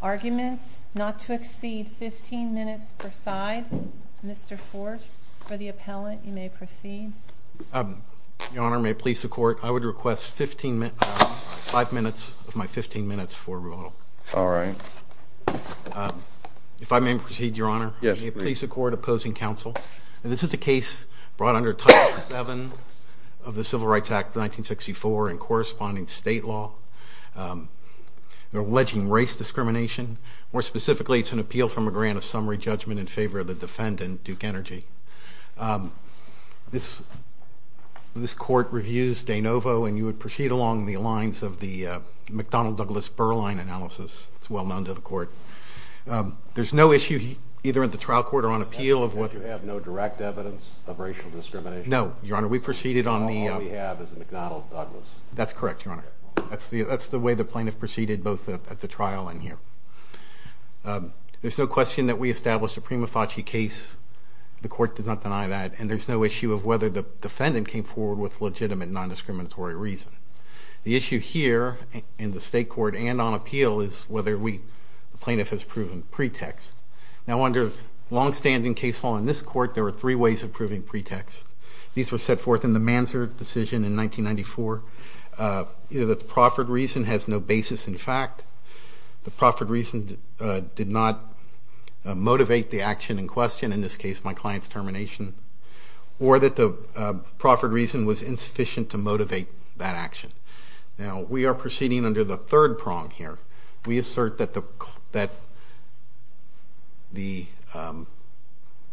Arguments not to exceed 15 minutes per side. Mr. Forge, for the appellant, you may proceed. Your Honor, may it please the Court, I would request five minutes of my 15 minutes for rebuttal. If I may proceed, Your Honor, may it please the Court, opposing counsel. This is a case brought under Title VII of the Civil Rights Act of 1964 and corresponding to state law, alleging race discrimination. More specifically, it's an appeal from a grant of summary judgment in favor of the defendant, Duke Energy. This Court reviews de novo, and you would proceed along the lines of the McDonnell-Douglas-Berline analysis. It's well known to the Court. There's no issue either at the trial court or on appeal of what... You have no direct evidence of racial discrimination? No, Your Honor. We proceeded on the... All we have is a McDonnell-Douglas. That's correct, Your Honor. That's the way the plaintiff proceeded, both at the trial and here. There's no question that we established a prima facie case. The Court did not deny that, and there's no issue of whether the defendant came forward with legitimate non-discriminatory reason. The issue here, in the state court and on appeal, is whether the plaintiff has proven pretext. Now, under long-standing case law in this Court, there are three ways of proving pretext. These were set forth in the Mansard decision in 1994. The proffered reason has no basis in fact. The proffered reason did not motivate the action in question, in this case, my client's termination. Or that the proffered reason was insufficient to motivate that action. Now, we are proceeding under the third prong here. We assert that the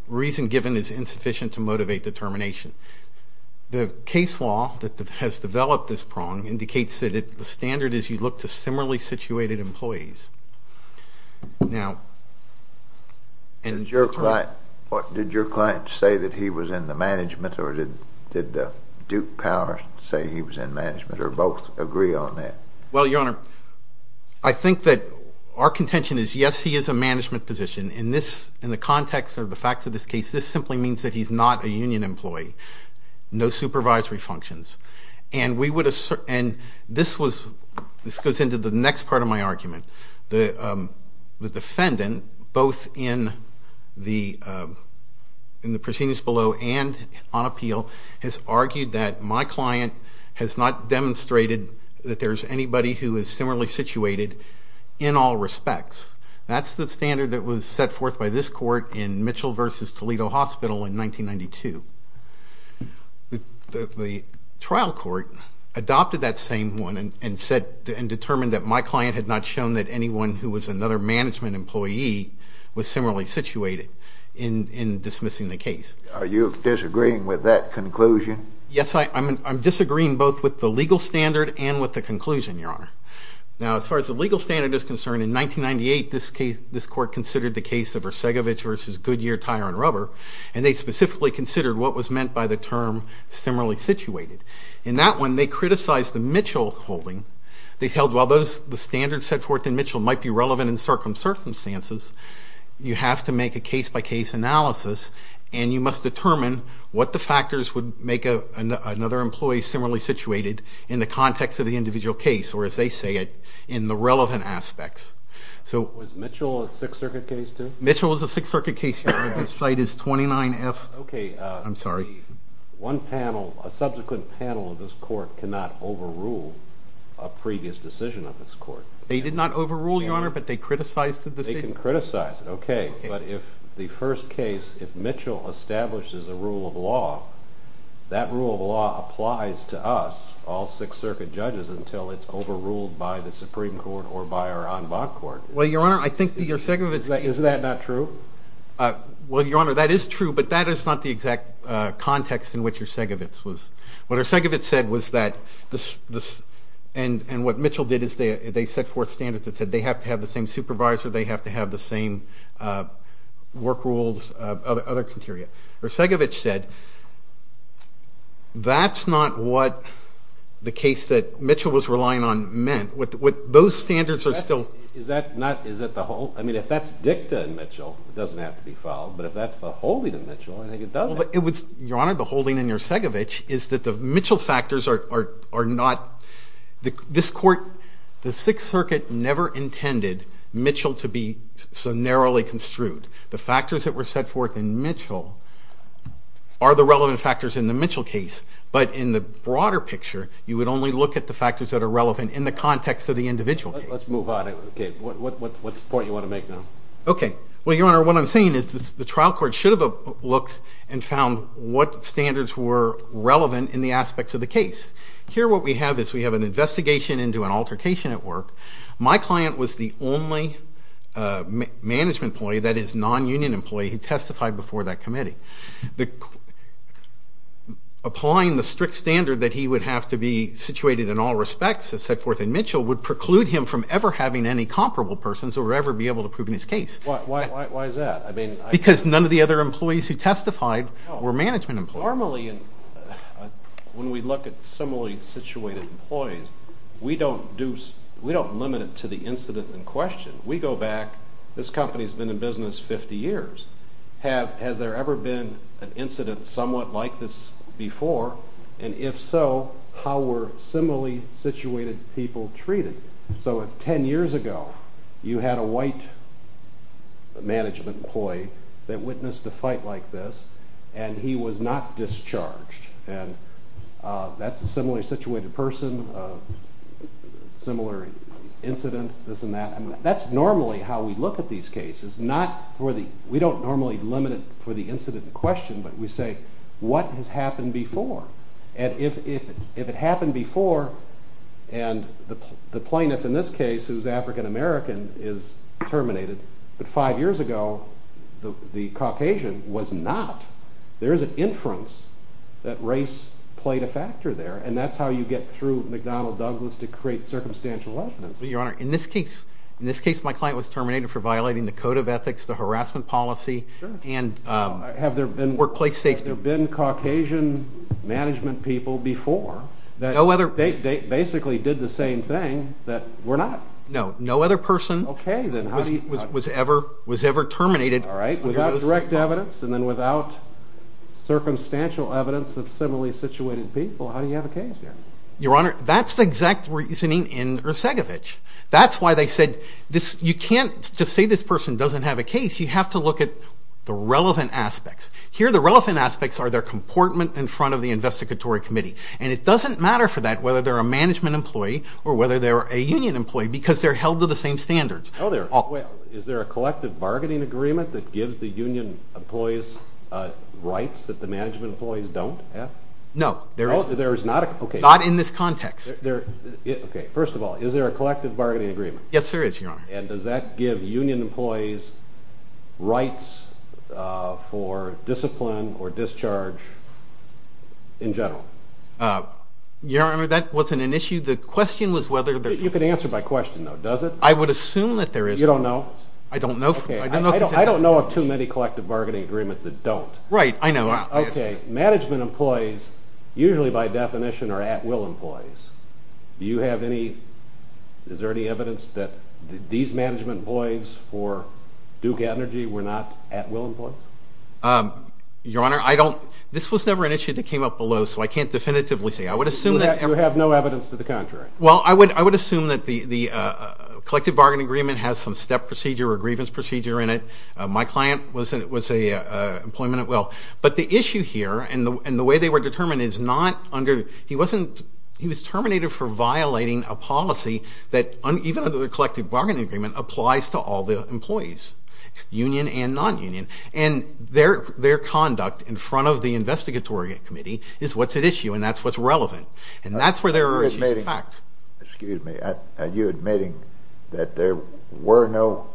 reason given is insufficient to motivate the termination. The case law that has developed this prong indicates that the standard is you look to similarly situated employees. Now, did your client say that he was in the management, or did Duke Power say he was in management, or both agree on that? Well, Your Honor, I think that our contention is yes, he is a management position. In the context of the facts of this case, this simply means that he's not a union employee. No supervisory functions. And this goes into the next part of my argument. The defendant, both in the proscenius below and on appeal, has argued that my client has not demonstrated that there is anybody who is similarly situated in all respects. That's the standard that was set forth by this Court in Mitchell v. Toledo Hospital in 1992. The trial court adopted that same one and determined that my client had not shown that anyone who was another management employee was similarly situated in dismissing the case. Are you disagreeing with that conclusion? Yes, I'm disagreeing both with the legal standard and with the conclusion, Your Honor. Now, as far as the legal standard is concerned, in 1998 this Court considered the case of what was meant by the term similarly situated. In that one, they criticized the Mitchell holding. They held while the standards set forth in Mitchell might be relevant in certain circumstances, you have to make a case-by-case analysis and you must determine what the factors would make another employee similarly situated in the context of the individual case, or as they say it, in the relevant aspects. Was Mitchell a Sixth Circuit case too? Mitchell was a Sixth Circuit case, Your Honor. Okay. I'm sorry. One panel, a subsequent panel of this Court cannot overrule a previous decision of this Court. They did not overrule, Your Honor, but they criticized the decision. They can criticize it. Okay. But if the first case, if Mitchell establishes a rule of law, that rule of law applies to us, all Sixth Circuit judges, until it's overruled by the Supreme Court or by our en banc court. Well, Your Honor, I think your second point is… Is that not true? Well, Your Honor, that is true, but that is not the exact context in which Urszagiewicz was. What Urszagiewicz said was that, and what Mitchell did is they set forth standards that said they have to have the same supervisor, they have to have the same work rules, other criteria. Urszagiewicz said that's not what the case that Mitchell was relying on meant. Those standards are still… I mean, if that's dicta in Mitchell, it doesn't have to be filed, but if that's the holding in Mitchell, I think it doesn't. Your Honor, the holding in Urszagiewicz is that the Mitchell factors are not… This Court, the Sixth Circuit never intended Mitchell to be so narrowly construed. The factors that were set forth in Mitchell are the relevant factors in the Mitchell case, but in the broader picture, you would only look at the factors that are relevant in the context of the individual case. Let's move on. Okay. What's the point you want to make now? Okay. Well, Your Honor, what I'm saying is the trial court should have looked and found what standards were relevant in the aspects of the case. Here what we have is we have an investigation into an altercation at work. My client was the only management employee, that is, non-union employee, who testified before that committee. Applying the strict standard that he would have to be situated in all respects, as set forth in Mitchell, would preclude him from ever having any comparable persons or ever be able to prove his case. Why is that? I mean… Because none of the other employees who testified were management employees. Normally, when we look at similarly situated employees, we don't limit it to the incident in question. We go back. This company has been in business 50 years. Has there ever been an incident somewhat like this before? And if so, how were similarly situated people treated? So if 10 years ago you had a white management employee that witnessed a fight like this, and he was not discharged, and that's a similarly situated person, similar incident, this and that, that's normally how we look at these cases. We don't normally limit it for the incident in question, but we say, what has happened before? And if it happened before, and the plaintiff in this case, who is African American, is terminated, but five years ago the Caucasian was not, there is an inference that race played a factor there, and that's how you get through McDonnell Douglas to create circumstantial evidence. Your Honor, in this case, my client was terminated for violating the code of ethics, the harassment policy, and workplace safety. Have there been Caucasian management people before that basically did the same thing that were not? No, no other person was ever terminated. All right, without direct evidence, and then without circumstantial evidence of similarly situated people, how do you have a case here? Your Honor, that's the exact reasoning in Ercegovich. That's why they said you can't just say this person doesn't have a case. You have to look at the relevant aspects. Here the relevant aspects are their comportment in front of the investigatory committee, and it doesn't matter for that whether they're a management employee or whether they're a union employee because they're held to the same standards. Is there a collective bargaining agreement that gives the union employees rights that the management employees don't have? No, not in this context. Okay, first of all, is there a collective bargaining agreement? Yes, there is, Your Honor. And does that give union employees rights for discipline or discharge in general? Your Honor, that wasn't an issue. The question was whether there was. You can answer by question, though, does it? I would assume that there is. You don't know? I don't know. I don't know of too many collective bargaining agreements that don't. Right, I know. Okay, management employees usually by definition are at-will employees. Do you have any, is there any evidence that these management employees for Duke Energy were not at-will employees? Your Honor, I don't, this was never an issue that came up below, so I can't definitively say. I would assume that. You have no evidence to the contrary. Well, I would assume that the collective bargaining agreement has some step procedure or a grievance procedure in it. My client was an employment at-will. But the issue here and the way they were determined is not under, he wasn't, he was terminated for violating a policy that, even under the collective bargaining agreement, applies to all the employees, union and non-union. And their conduct in front of the investigatory committee is what's at issue, and that's what's relevant. And that's where there are issues in fact. Excuse me, are you admitting that there were no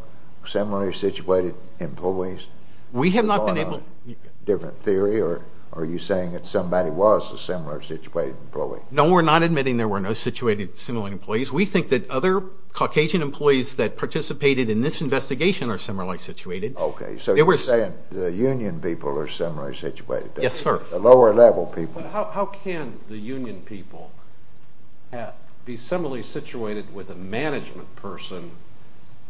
similarly situated employees? We have not been able to. Is that a different theory, or are you saying that somebody was a similar situated employee? No, we're not admitting there were no similarly situated employees. We think that other Caucasian employees that participated in this investigation are similarly situated. Okay, so you're saying the union people are similarly situated. Yes, sir. The lower level people. But how can the union people be similarly situated with a management person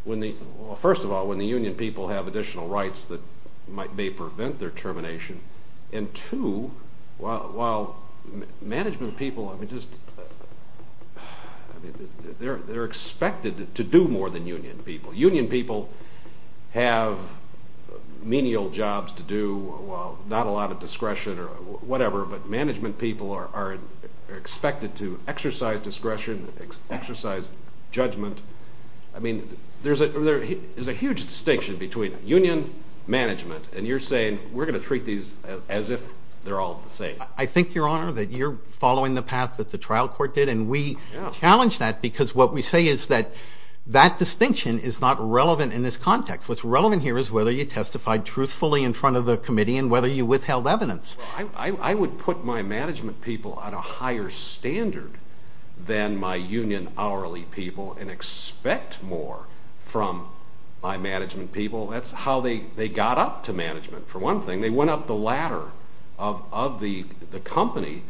when the, well, first of all, when the union people have additional rights that may prevent their termination, and two, while management people, I mean, just, they're expected to do more than union people. Union people have menial jobs to do, not a lot of discretion or whatever, but management people are expected to exercise discretion, exercise judgment. I mean, there's a huge distinction between union, management, and you're saying we're going to treat these as if they're all the same. I think, Your Honor, that you're following the path that the trial court did, and we challenge that because what we say is that that distinction is not relevant in this context. What's relevant here is whether you testified truthfully in front of the committee and whether you withheld evidence. I would put my management people at a higher standard than my union hourly people and expect more from my management people. That's how they got up to management, for one thing. They went up the ladder of the company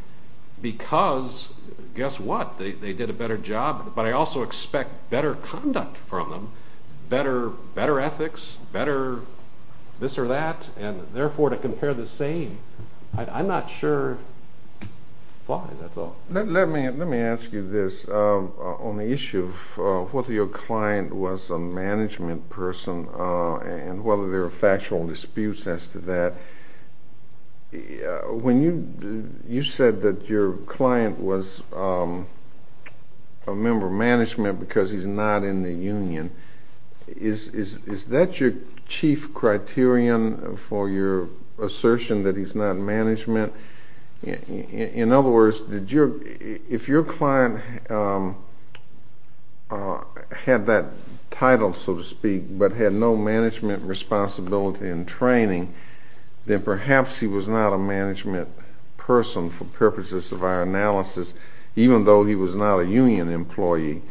because, guess what, they did a better job, but I also expect better conduct from them, better ethics, better this or that, and therefore to compare the same, I'm not sure, fine, that's all. Let me ask you this. On the issue of whether your client was a management person and whether there were factual disputes as to that, when you said that your client was a member of management because he's not in the union, is that your chief criterion for your assertion that he's not management? In other words, if your client had that title, so to speak, but had no management responsibility in training, then perhaps he was not a management person for purposes of our analysis, even though he was not a union employee.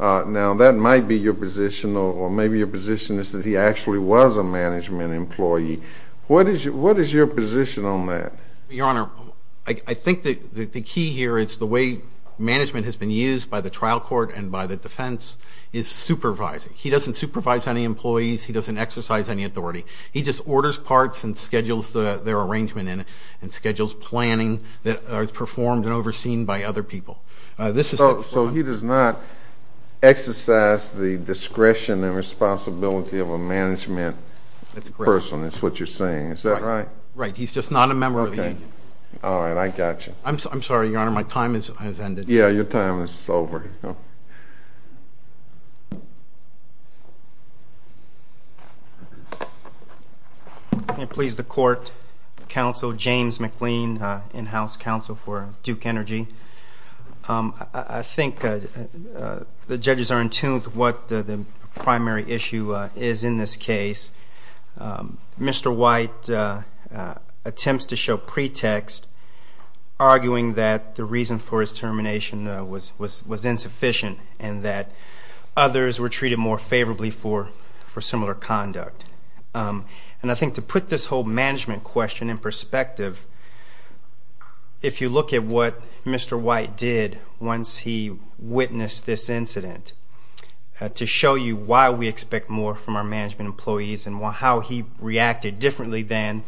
Now, that might be your position, or maybe your position is that he actually was a management employee. What is your position on that? Your Honor, I think the key here is the way management has been used by the trial court and by the defense is supervising. He doesn't supervise any employees. He doesn't exercise any authority. He just orders parts and schedules their arrangement in it and schedules planning that is performed and overseen by other people. So he does not exercise the discretion and responsibility of a management person. That's what you're saying. Is that right? Right. He's just not a member of the union. Okay. All right. I got you. I'm sorry, Your Honor. My time has ended. Yeah. Your time is over. May it please the Court, Counsel James McLean, in-house counsel for Duke Energy. I think the judges are in tune to what the primary issue is in this case. Mr. White attempts to show pretext, arguing that the reason for his termination was insufficient and that others were treated more favorably for similar conduct. And I think to put this whole management question in perspective, if you look at what Mr. White did once he witnessed this incident to show you why we expect more from our management employees and how he reacted differently than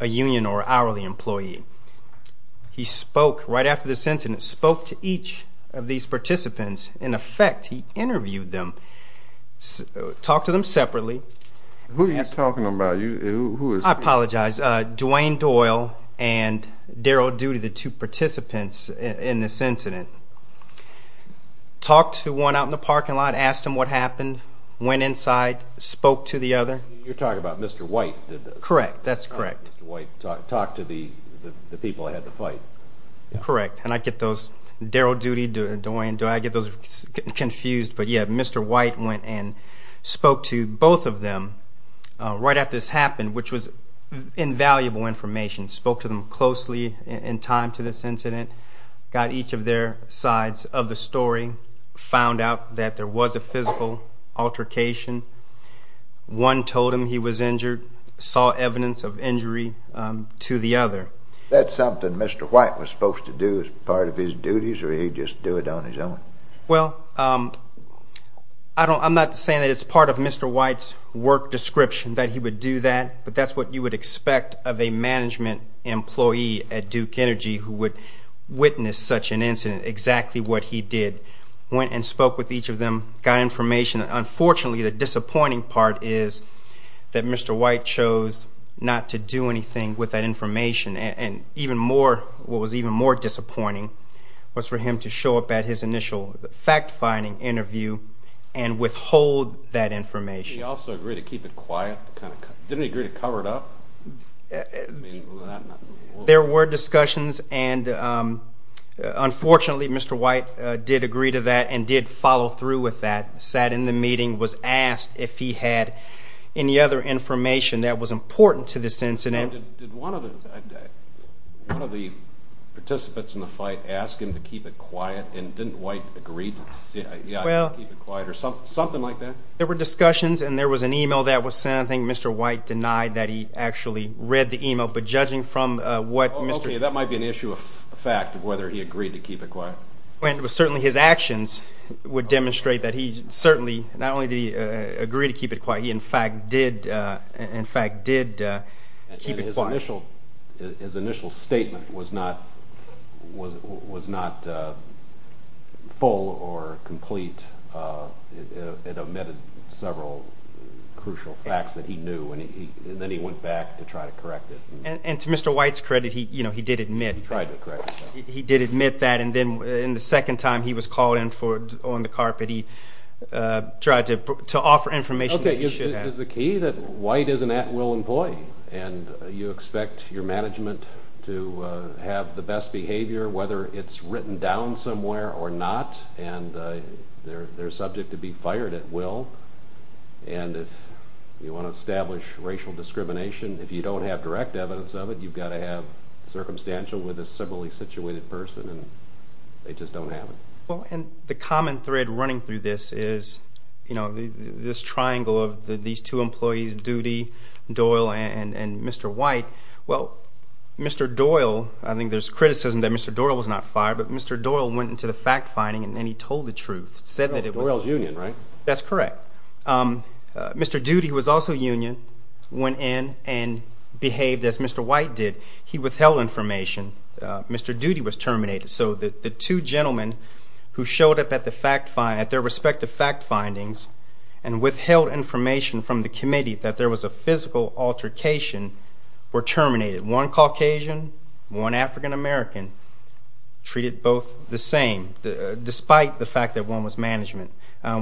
a union or hourly employee, he spoke right after this incident, spoke to each of these participants. In effect, he interviewed them, talked to them separately. Who are you talking about? I apologize. It was Duane Doyle and Daryl Doody, the two participants in this incident. Talked to one out in the parking lot, asked him what happened, went inside, spoke to the other. You're talking about Mr. White did this? Correct. That's correct. Mr. White talked to the people ahead of the fight. Correct. And I get those, Daryl Doody, Duane Doyle, I get those confused. But, yeah, Mr. White went and spoke to both of them right after this happened, which was invaluable information. Spoke to them closely in time to this incident. Got each of their sides of the story. Found out that there was a physical altercation. One told him he was injured. Saw evidence of injury to the other. That's something Mr. White was supposed to do as part of his duties or he'd just do it on his own? Well, I'm not saying that it's part of Mr. White's work description that he would do that, but that's what you would expect of a management employee at Duke Energy who would witness such an incident, exactly what he did. Went and spoke with each of them. Got information. Unfortunately, the disappointing part is that Mr. White chose not to do anything with that information. What was even more disappointing was for him to show up at his initial fact-finding interview and withhold that information. Did he also agree to keep it quiet? Didn't he agree to cover it up? There were discussions, and unfortunately, Mr. White did agree to that and did follow through with that. Sat in the meeting, was asked if he had any other information that was important to this incident. Did one of the participants in the fight ask him to keep it quiet, and didn't White agree to keep it quiet or something like that? There were discussions, and there was an email that was sent. I think Mr. White denied that he actually read the email, but judging from what Mr. Okay, that might be an issue of fact of whether he agreed to keep it quiet. Certainly his actions would demonstrate that he certainly not only did he agree to keep it quiet, he in fact did keep it quiet. His initial statement was not full or complete. It omitted several crucial facts that he knew, and then he went back to try to correct it. And to Mr. White's credit, he did admit that. He tried to correct it. He did admit that, and then the second time he was called in on the carpet, he tried to offer information that he should have. Okay, is the key that White is an at-will employee, and you expect your management to have the best behavior, whether it's written down somewhere or not, and they're subject to be fired at will. And if you want to establish racial discrimination, if you don't have direct evidence of it, you've got to have circumstantial with a civilly-situated person, and they just don't have it. Well, and the common thread running through this is, you know, this triangle of these two employees, Doody, Doyle, and Mr. White. Well, Mr. Doyle, I think there's criticism that Mr. Doyle was not fired, but Mr. Doyle went into the fact-finding, and he told the truth. Doyle's union, right? That's correct. Mr. Doody, who was also union, went in and behaved as Mr. White did. He withheld information. Mr. Doody was terminated. So the two gentlemen who showed up at their respective fact findings and withheld information from the committee that there was a physical altercation were terminated. One Caucasian, one African-American, treated both the same, despite the fact that one was management.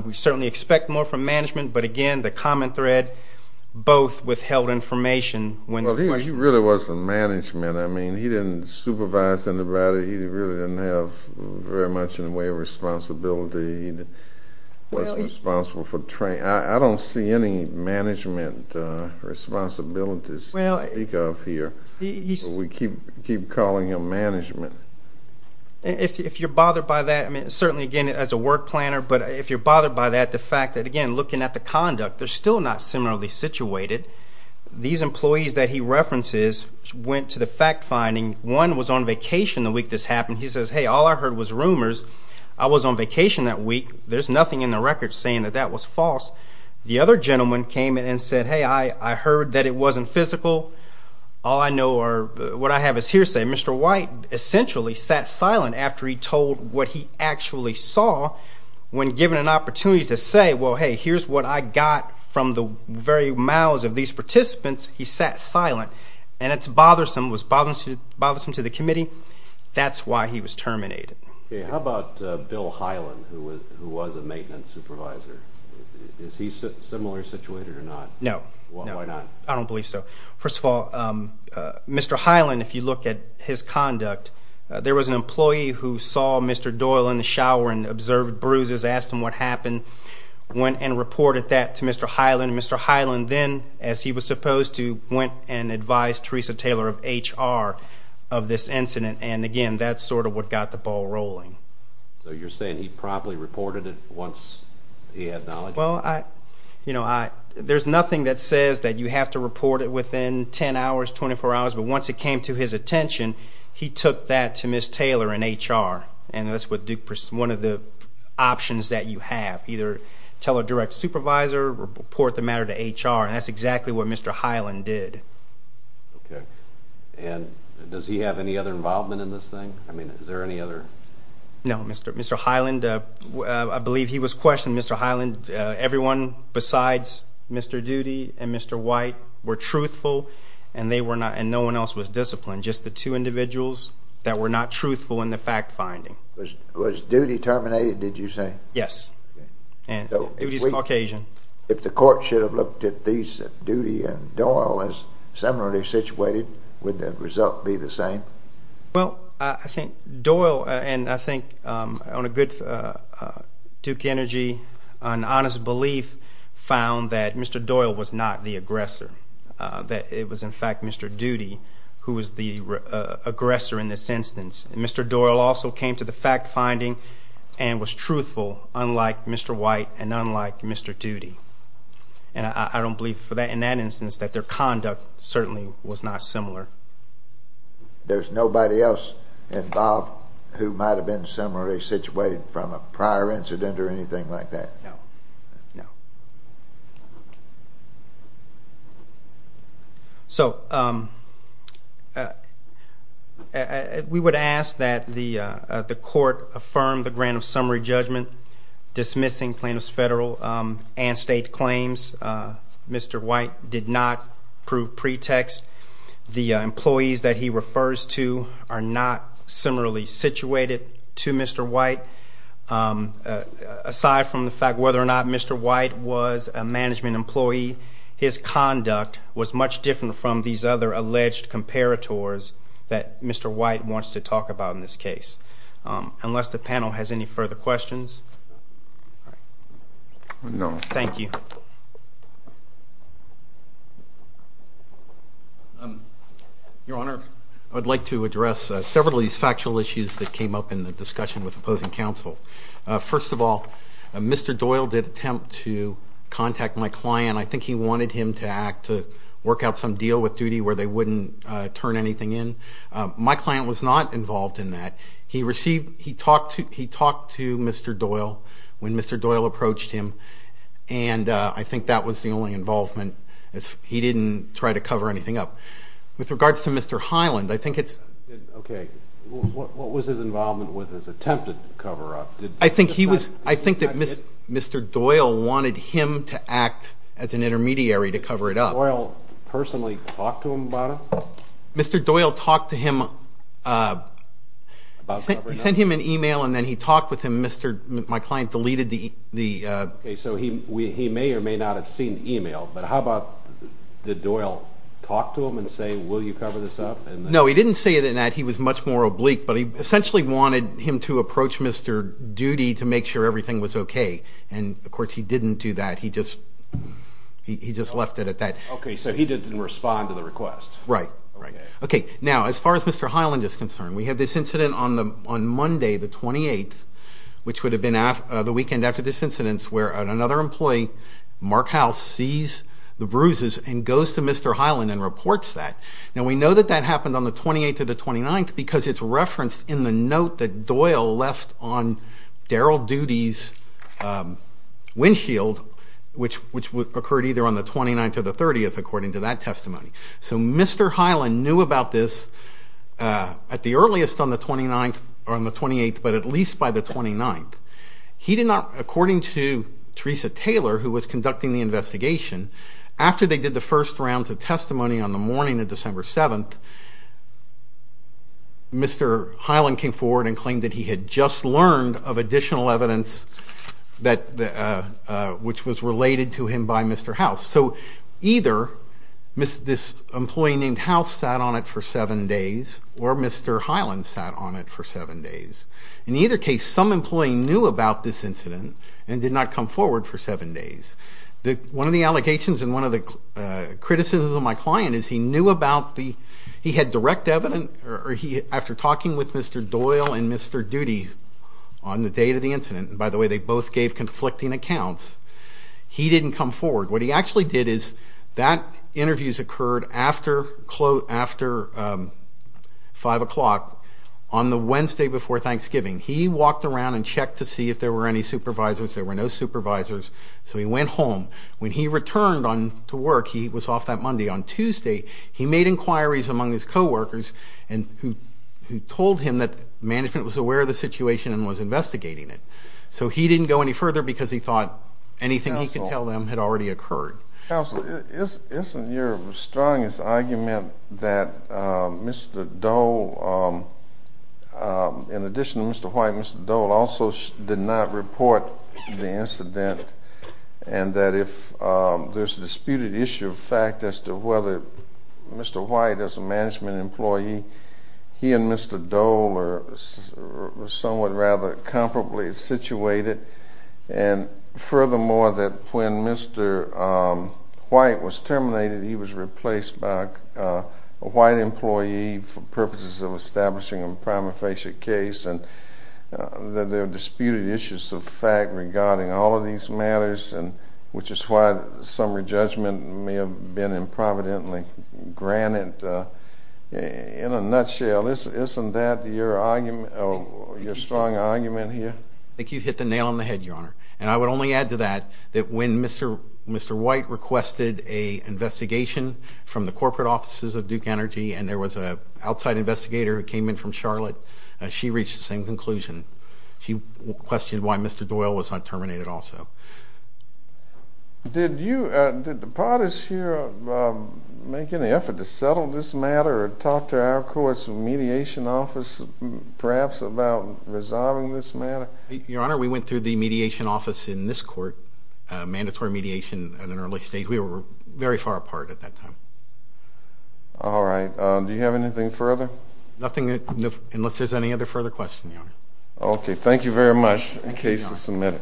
We certainly expect more from management, but, again, the common thread, both withheld information. Well, he really wasn't management. I mean, he didn't supervise anybody. He really didn't have very much in the way of responsibility. He wasn't responsible for training. I don't see any management responsibilities to speak of here. We keep calling him management. If you're bothered by that, I mean, certainly, again, as a work planner, but if you're bothered by that, the fact that, again, looking at the conduct, they're still not similarly situated. These employees that he references went to the fact-finding. One was on vacation the week this happened. He says, hey, all I heard was rumors. I was on vacation that week. There's nothing in the record saying that that was false. The other gentleman came in and said, hey, I heard that it wasn't physical. All I know or what I have is hearsay. Mr. White essentially sat silent after he told what he actually saw when given an opportunity to say, well, hey, here's what I got from the very mouths of these participants. He sat silent. And it's bothersome, was bothersome to the committee. That's why he was terminated. Okay. How about Bill Hyland, who was a maintenance supervisor? Is he similarly situated or not? No. Why not? I don't believe so. First of all, Mr. Hyland, if you look at his conduct, there was an employee who saw Mr. Doyle in the shower and observed bruises, asked him what happened, went and reported that to Mr. Hyland. Mr. Hyland then, as he was supposed to, went and advised Teresa Taylor of HR of this incident. And, again, that's sort of what got the ball rolling. So you're saying he promptly reported it once he had knowledge? Well, you know, there's nothing that says that you have to report it within 10 hours, 24 hours. But once it came to his attention, he took that to Ms. Taylor in HR. And that's one of the options that you have. Either tell a direct supervisor or report the matter to HR. And that's exactly what Mr. Hyland did. Okay. And does he have any other involvement in this thing? I mean, is there any other? No. Mr. Hyland, I believe he was questioned. Mr. Hyland, everyone besides Mr. Doody and Mr. White were truthful, and no one else was disciplined, just the two individuals that were not truthful in the fact-finding. Was Doody terminated, did you say? Yes. Doody is Caucasian. If the court should have looked at these, Doody and Doyle as similarly situated, would the result be the same? Well, I think Doyle, and I think on a good Duke Energy, an honest belief found that Mr. Doyle was not the aggressor, that it was, in fact, Mr. Doody who was the aggressor in this instance. Mr. Doyle also came to the fact-finding and was truthful, unlike Mr. White and unlike Mr. Doody. And I don't believe, in that instance, that their conduct certainly was not similar. There's nobody else involved who might have been similarly situated from a prior incident or anything like that? No. No. Thank you. So we would ask that the court affirm the grant of summary judgment dismissing plaintiff's federal and state claims. Mr. White did not prove pretext. The employees that he refers to are not similarly situated to Mr. White. Aside from the fact whether or not Mr. White was a management employee, his conduct was much different from these other alleged comparators that Mr. White wants to talk about in this case. Unless the panel has any further questions? No. Thank you. Your Honor, I'd like to address several of these factual issues that came up in the discussion with opposing counsel. First of all, Mr. Doyle did attempt to contact my client. I think he wanted him to work out some deal with Doody where they wouldn't turn anything in. My client was not involved in that. He talked to Mr. Doyle when Mr. Doyle approached him, and I think that was the only involvement. He didn't try to cover anything up. With regards to Mr. Hyland, I think it's... Okay. What was his involvement with his attempt to cover up? I think that Mr. Doyle wanted him to act as an intermediary to cover it up. Did Mr. Doyle personally talk to him about it? Mr. Doyle talked to him... He sent him an e-mail, and then he talked with him. My client deleted the... Okay, so he may or may not have seen the e-mail, but how about did Doyle talk to him and say, Will you cover this up? No, he didn't say that. He was much more oblique, but he essentially wanted him to approach Mr. Doody to make sure everything was okay, and, of course, he didn't do that. He just left it at that. Okay, so he didn't respond to the request. Right, right. Okay, now, as far as Mr. Hyland is concerned, we had this incident on Monday, the 28th, which would have been the weekend after this incident, where another employee, Mark House, sees the bruises and goes to Mr. Hyland and reports that. Now, we know that that happened on the 28th or the 29th because it's referenced in the note that Doyle left on Daryl Doody's windshield, which occurred either on the 29th or the 30th, according to that testimony. So Mr. Hyland knew about this at the earliest on the 28th, but at least by the 29th. He did not, according to Teresa Taylor, who was conducting the investigation, after they did the first rounds of testimony on the morning of December 7th, Mr. Hyland came forward and claimed that he had just learned of additional evidence which was related to him by Mr. House. So either this employee named House sat on it for seven days or Mr. Hyland sat on it for seven days. In either case, some employee knew about this incident and did not come forward for seven days. One of the allegations and one of the criticisms of my client is he knew about the— he had direct evidence after talking with Mr. Doyle and Mr. Doody on the date of the incident, and by the way, they both gave conflicting accounts, he didn't come forward. What he actually did is that interviews occurred after 5 o'clock on the Wednesday before Thanksgiving. He walked around and checked to see if there were any supervisors. There were no supervisors, so he went home. When he returned to work, he was off that Monday, on Tuesday, he made inquiries among his coworkers who told him that management was aware of the situation and was investigating it. So he didn't go any further because he thought anything he could tell them had already occurred. Counsel, isn't your strongest argument that Mr. Doyle, in addition to Mr. White, Mr. Doyle also did not report the incident and that if there's a disputed issue of fact as to whether Mr. White as a management employee, he and Mr. Doyle were somewhat rather comparably situated, and furthermore that when Mr. White was terminated, he was replaced by a white employee for purposes of establishing a prima facie case and that there were disputed issues of fact regarding all of these matters, which is why summary judgment may have been improvidently granted. In a nutshell, isn't that your argument, your strong argument here? I think you've hit the nail on the head, Your Honor, and I would only add to that that when Mr. White requested an investigation from the corporate offices of Duke Energy and there was an outside investigator who came in from Charlotte, she reached the same conclusion. She questioned why Mr. Doyle was not terminated also. Did you, did the parties here make any effort to settle this matter or talk to our court's mediation office perhaps about resolving this matter? Your Honor, we went through the mediation office in this court, mandatory mediation in an early stage. We were very far apart at that time. All right. Do you have anything further? Nothing unless there's any other further questions, Your Honor. Okay. Thank you very much. The case is submitted.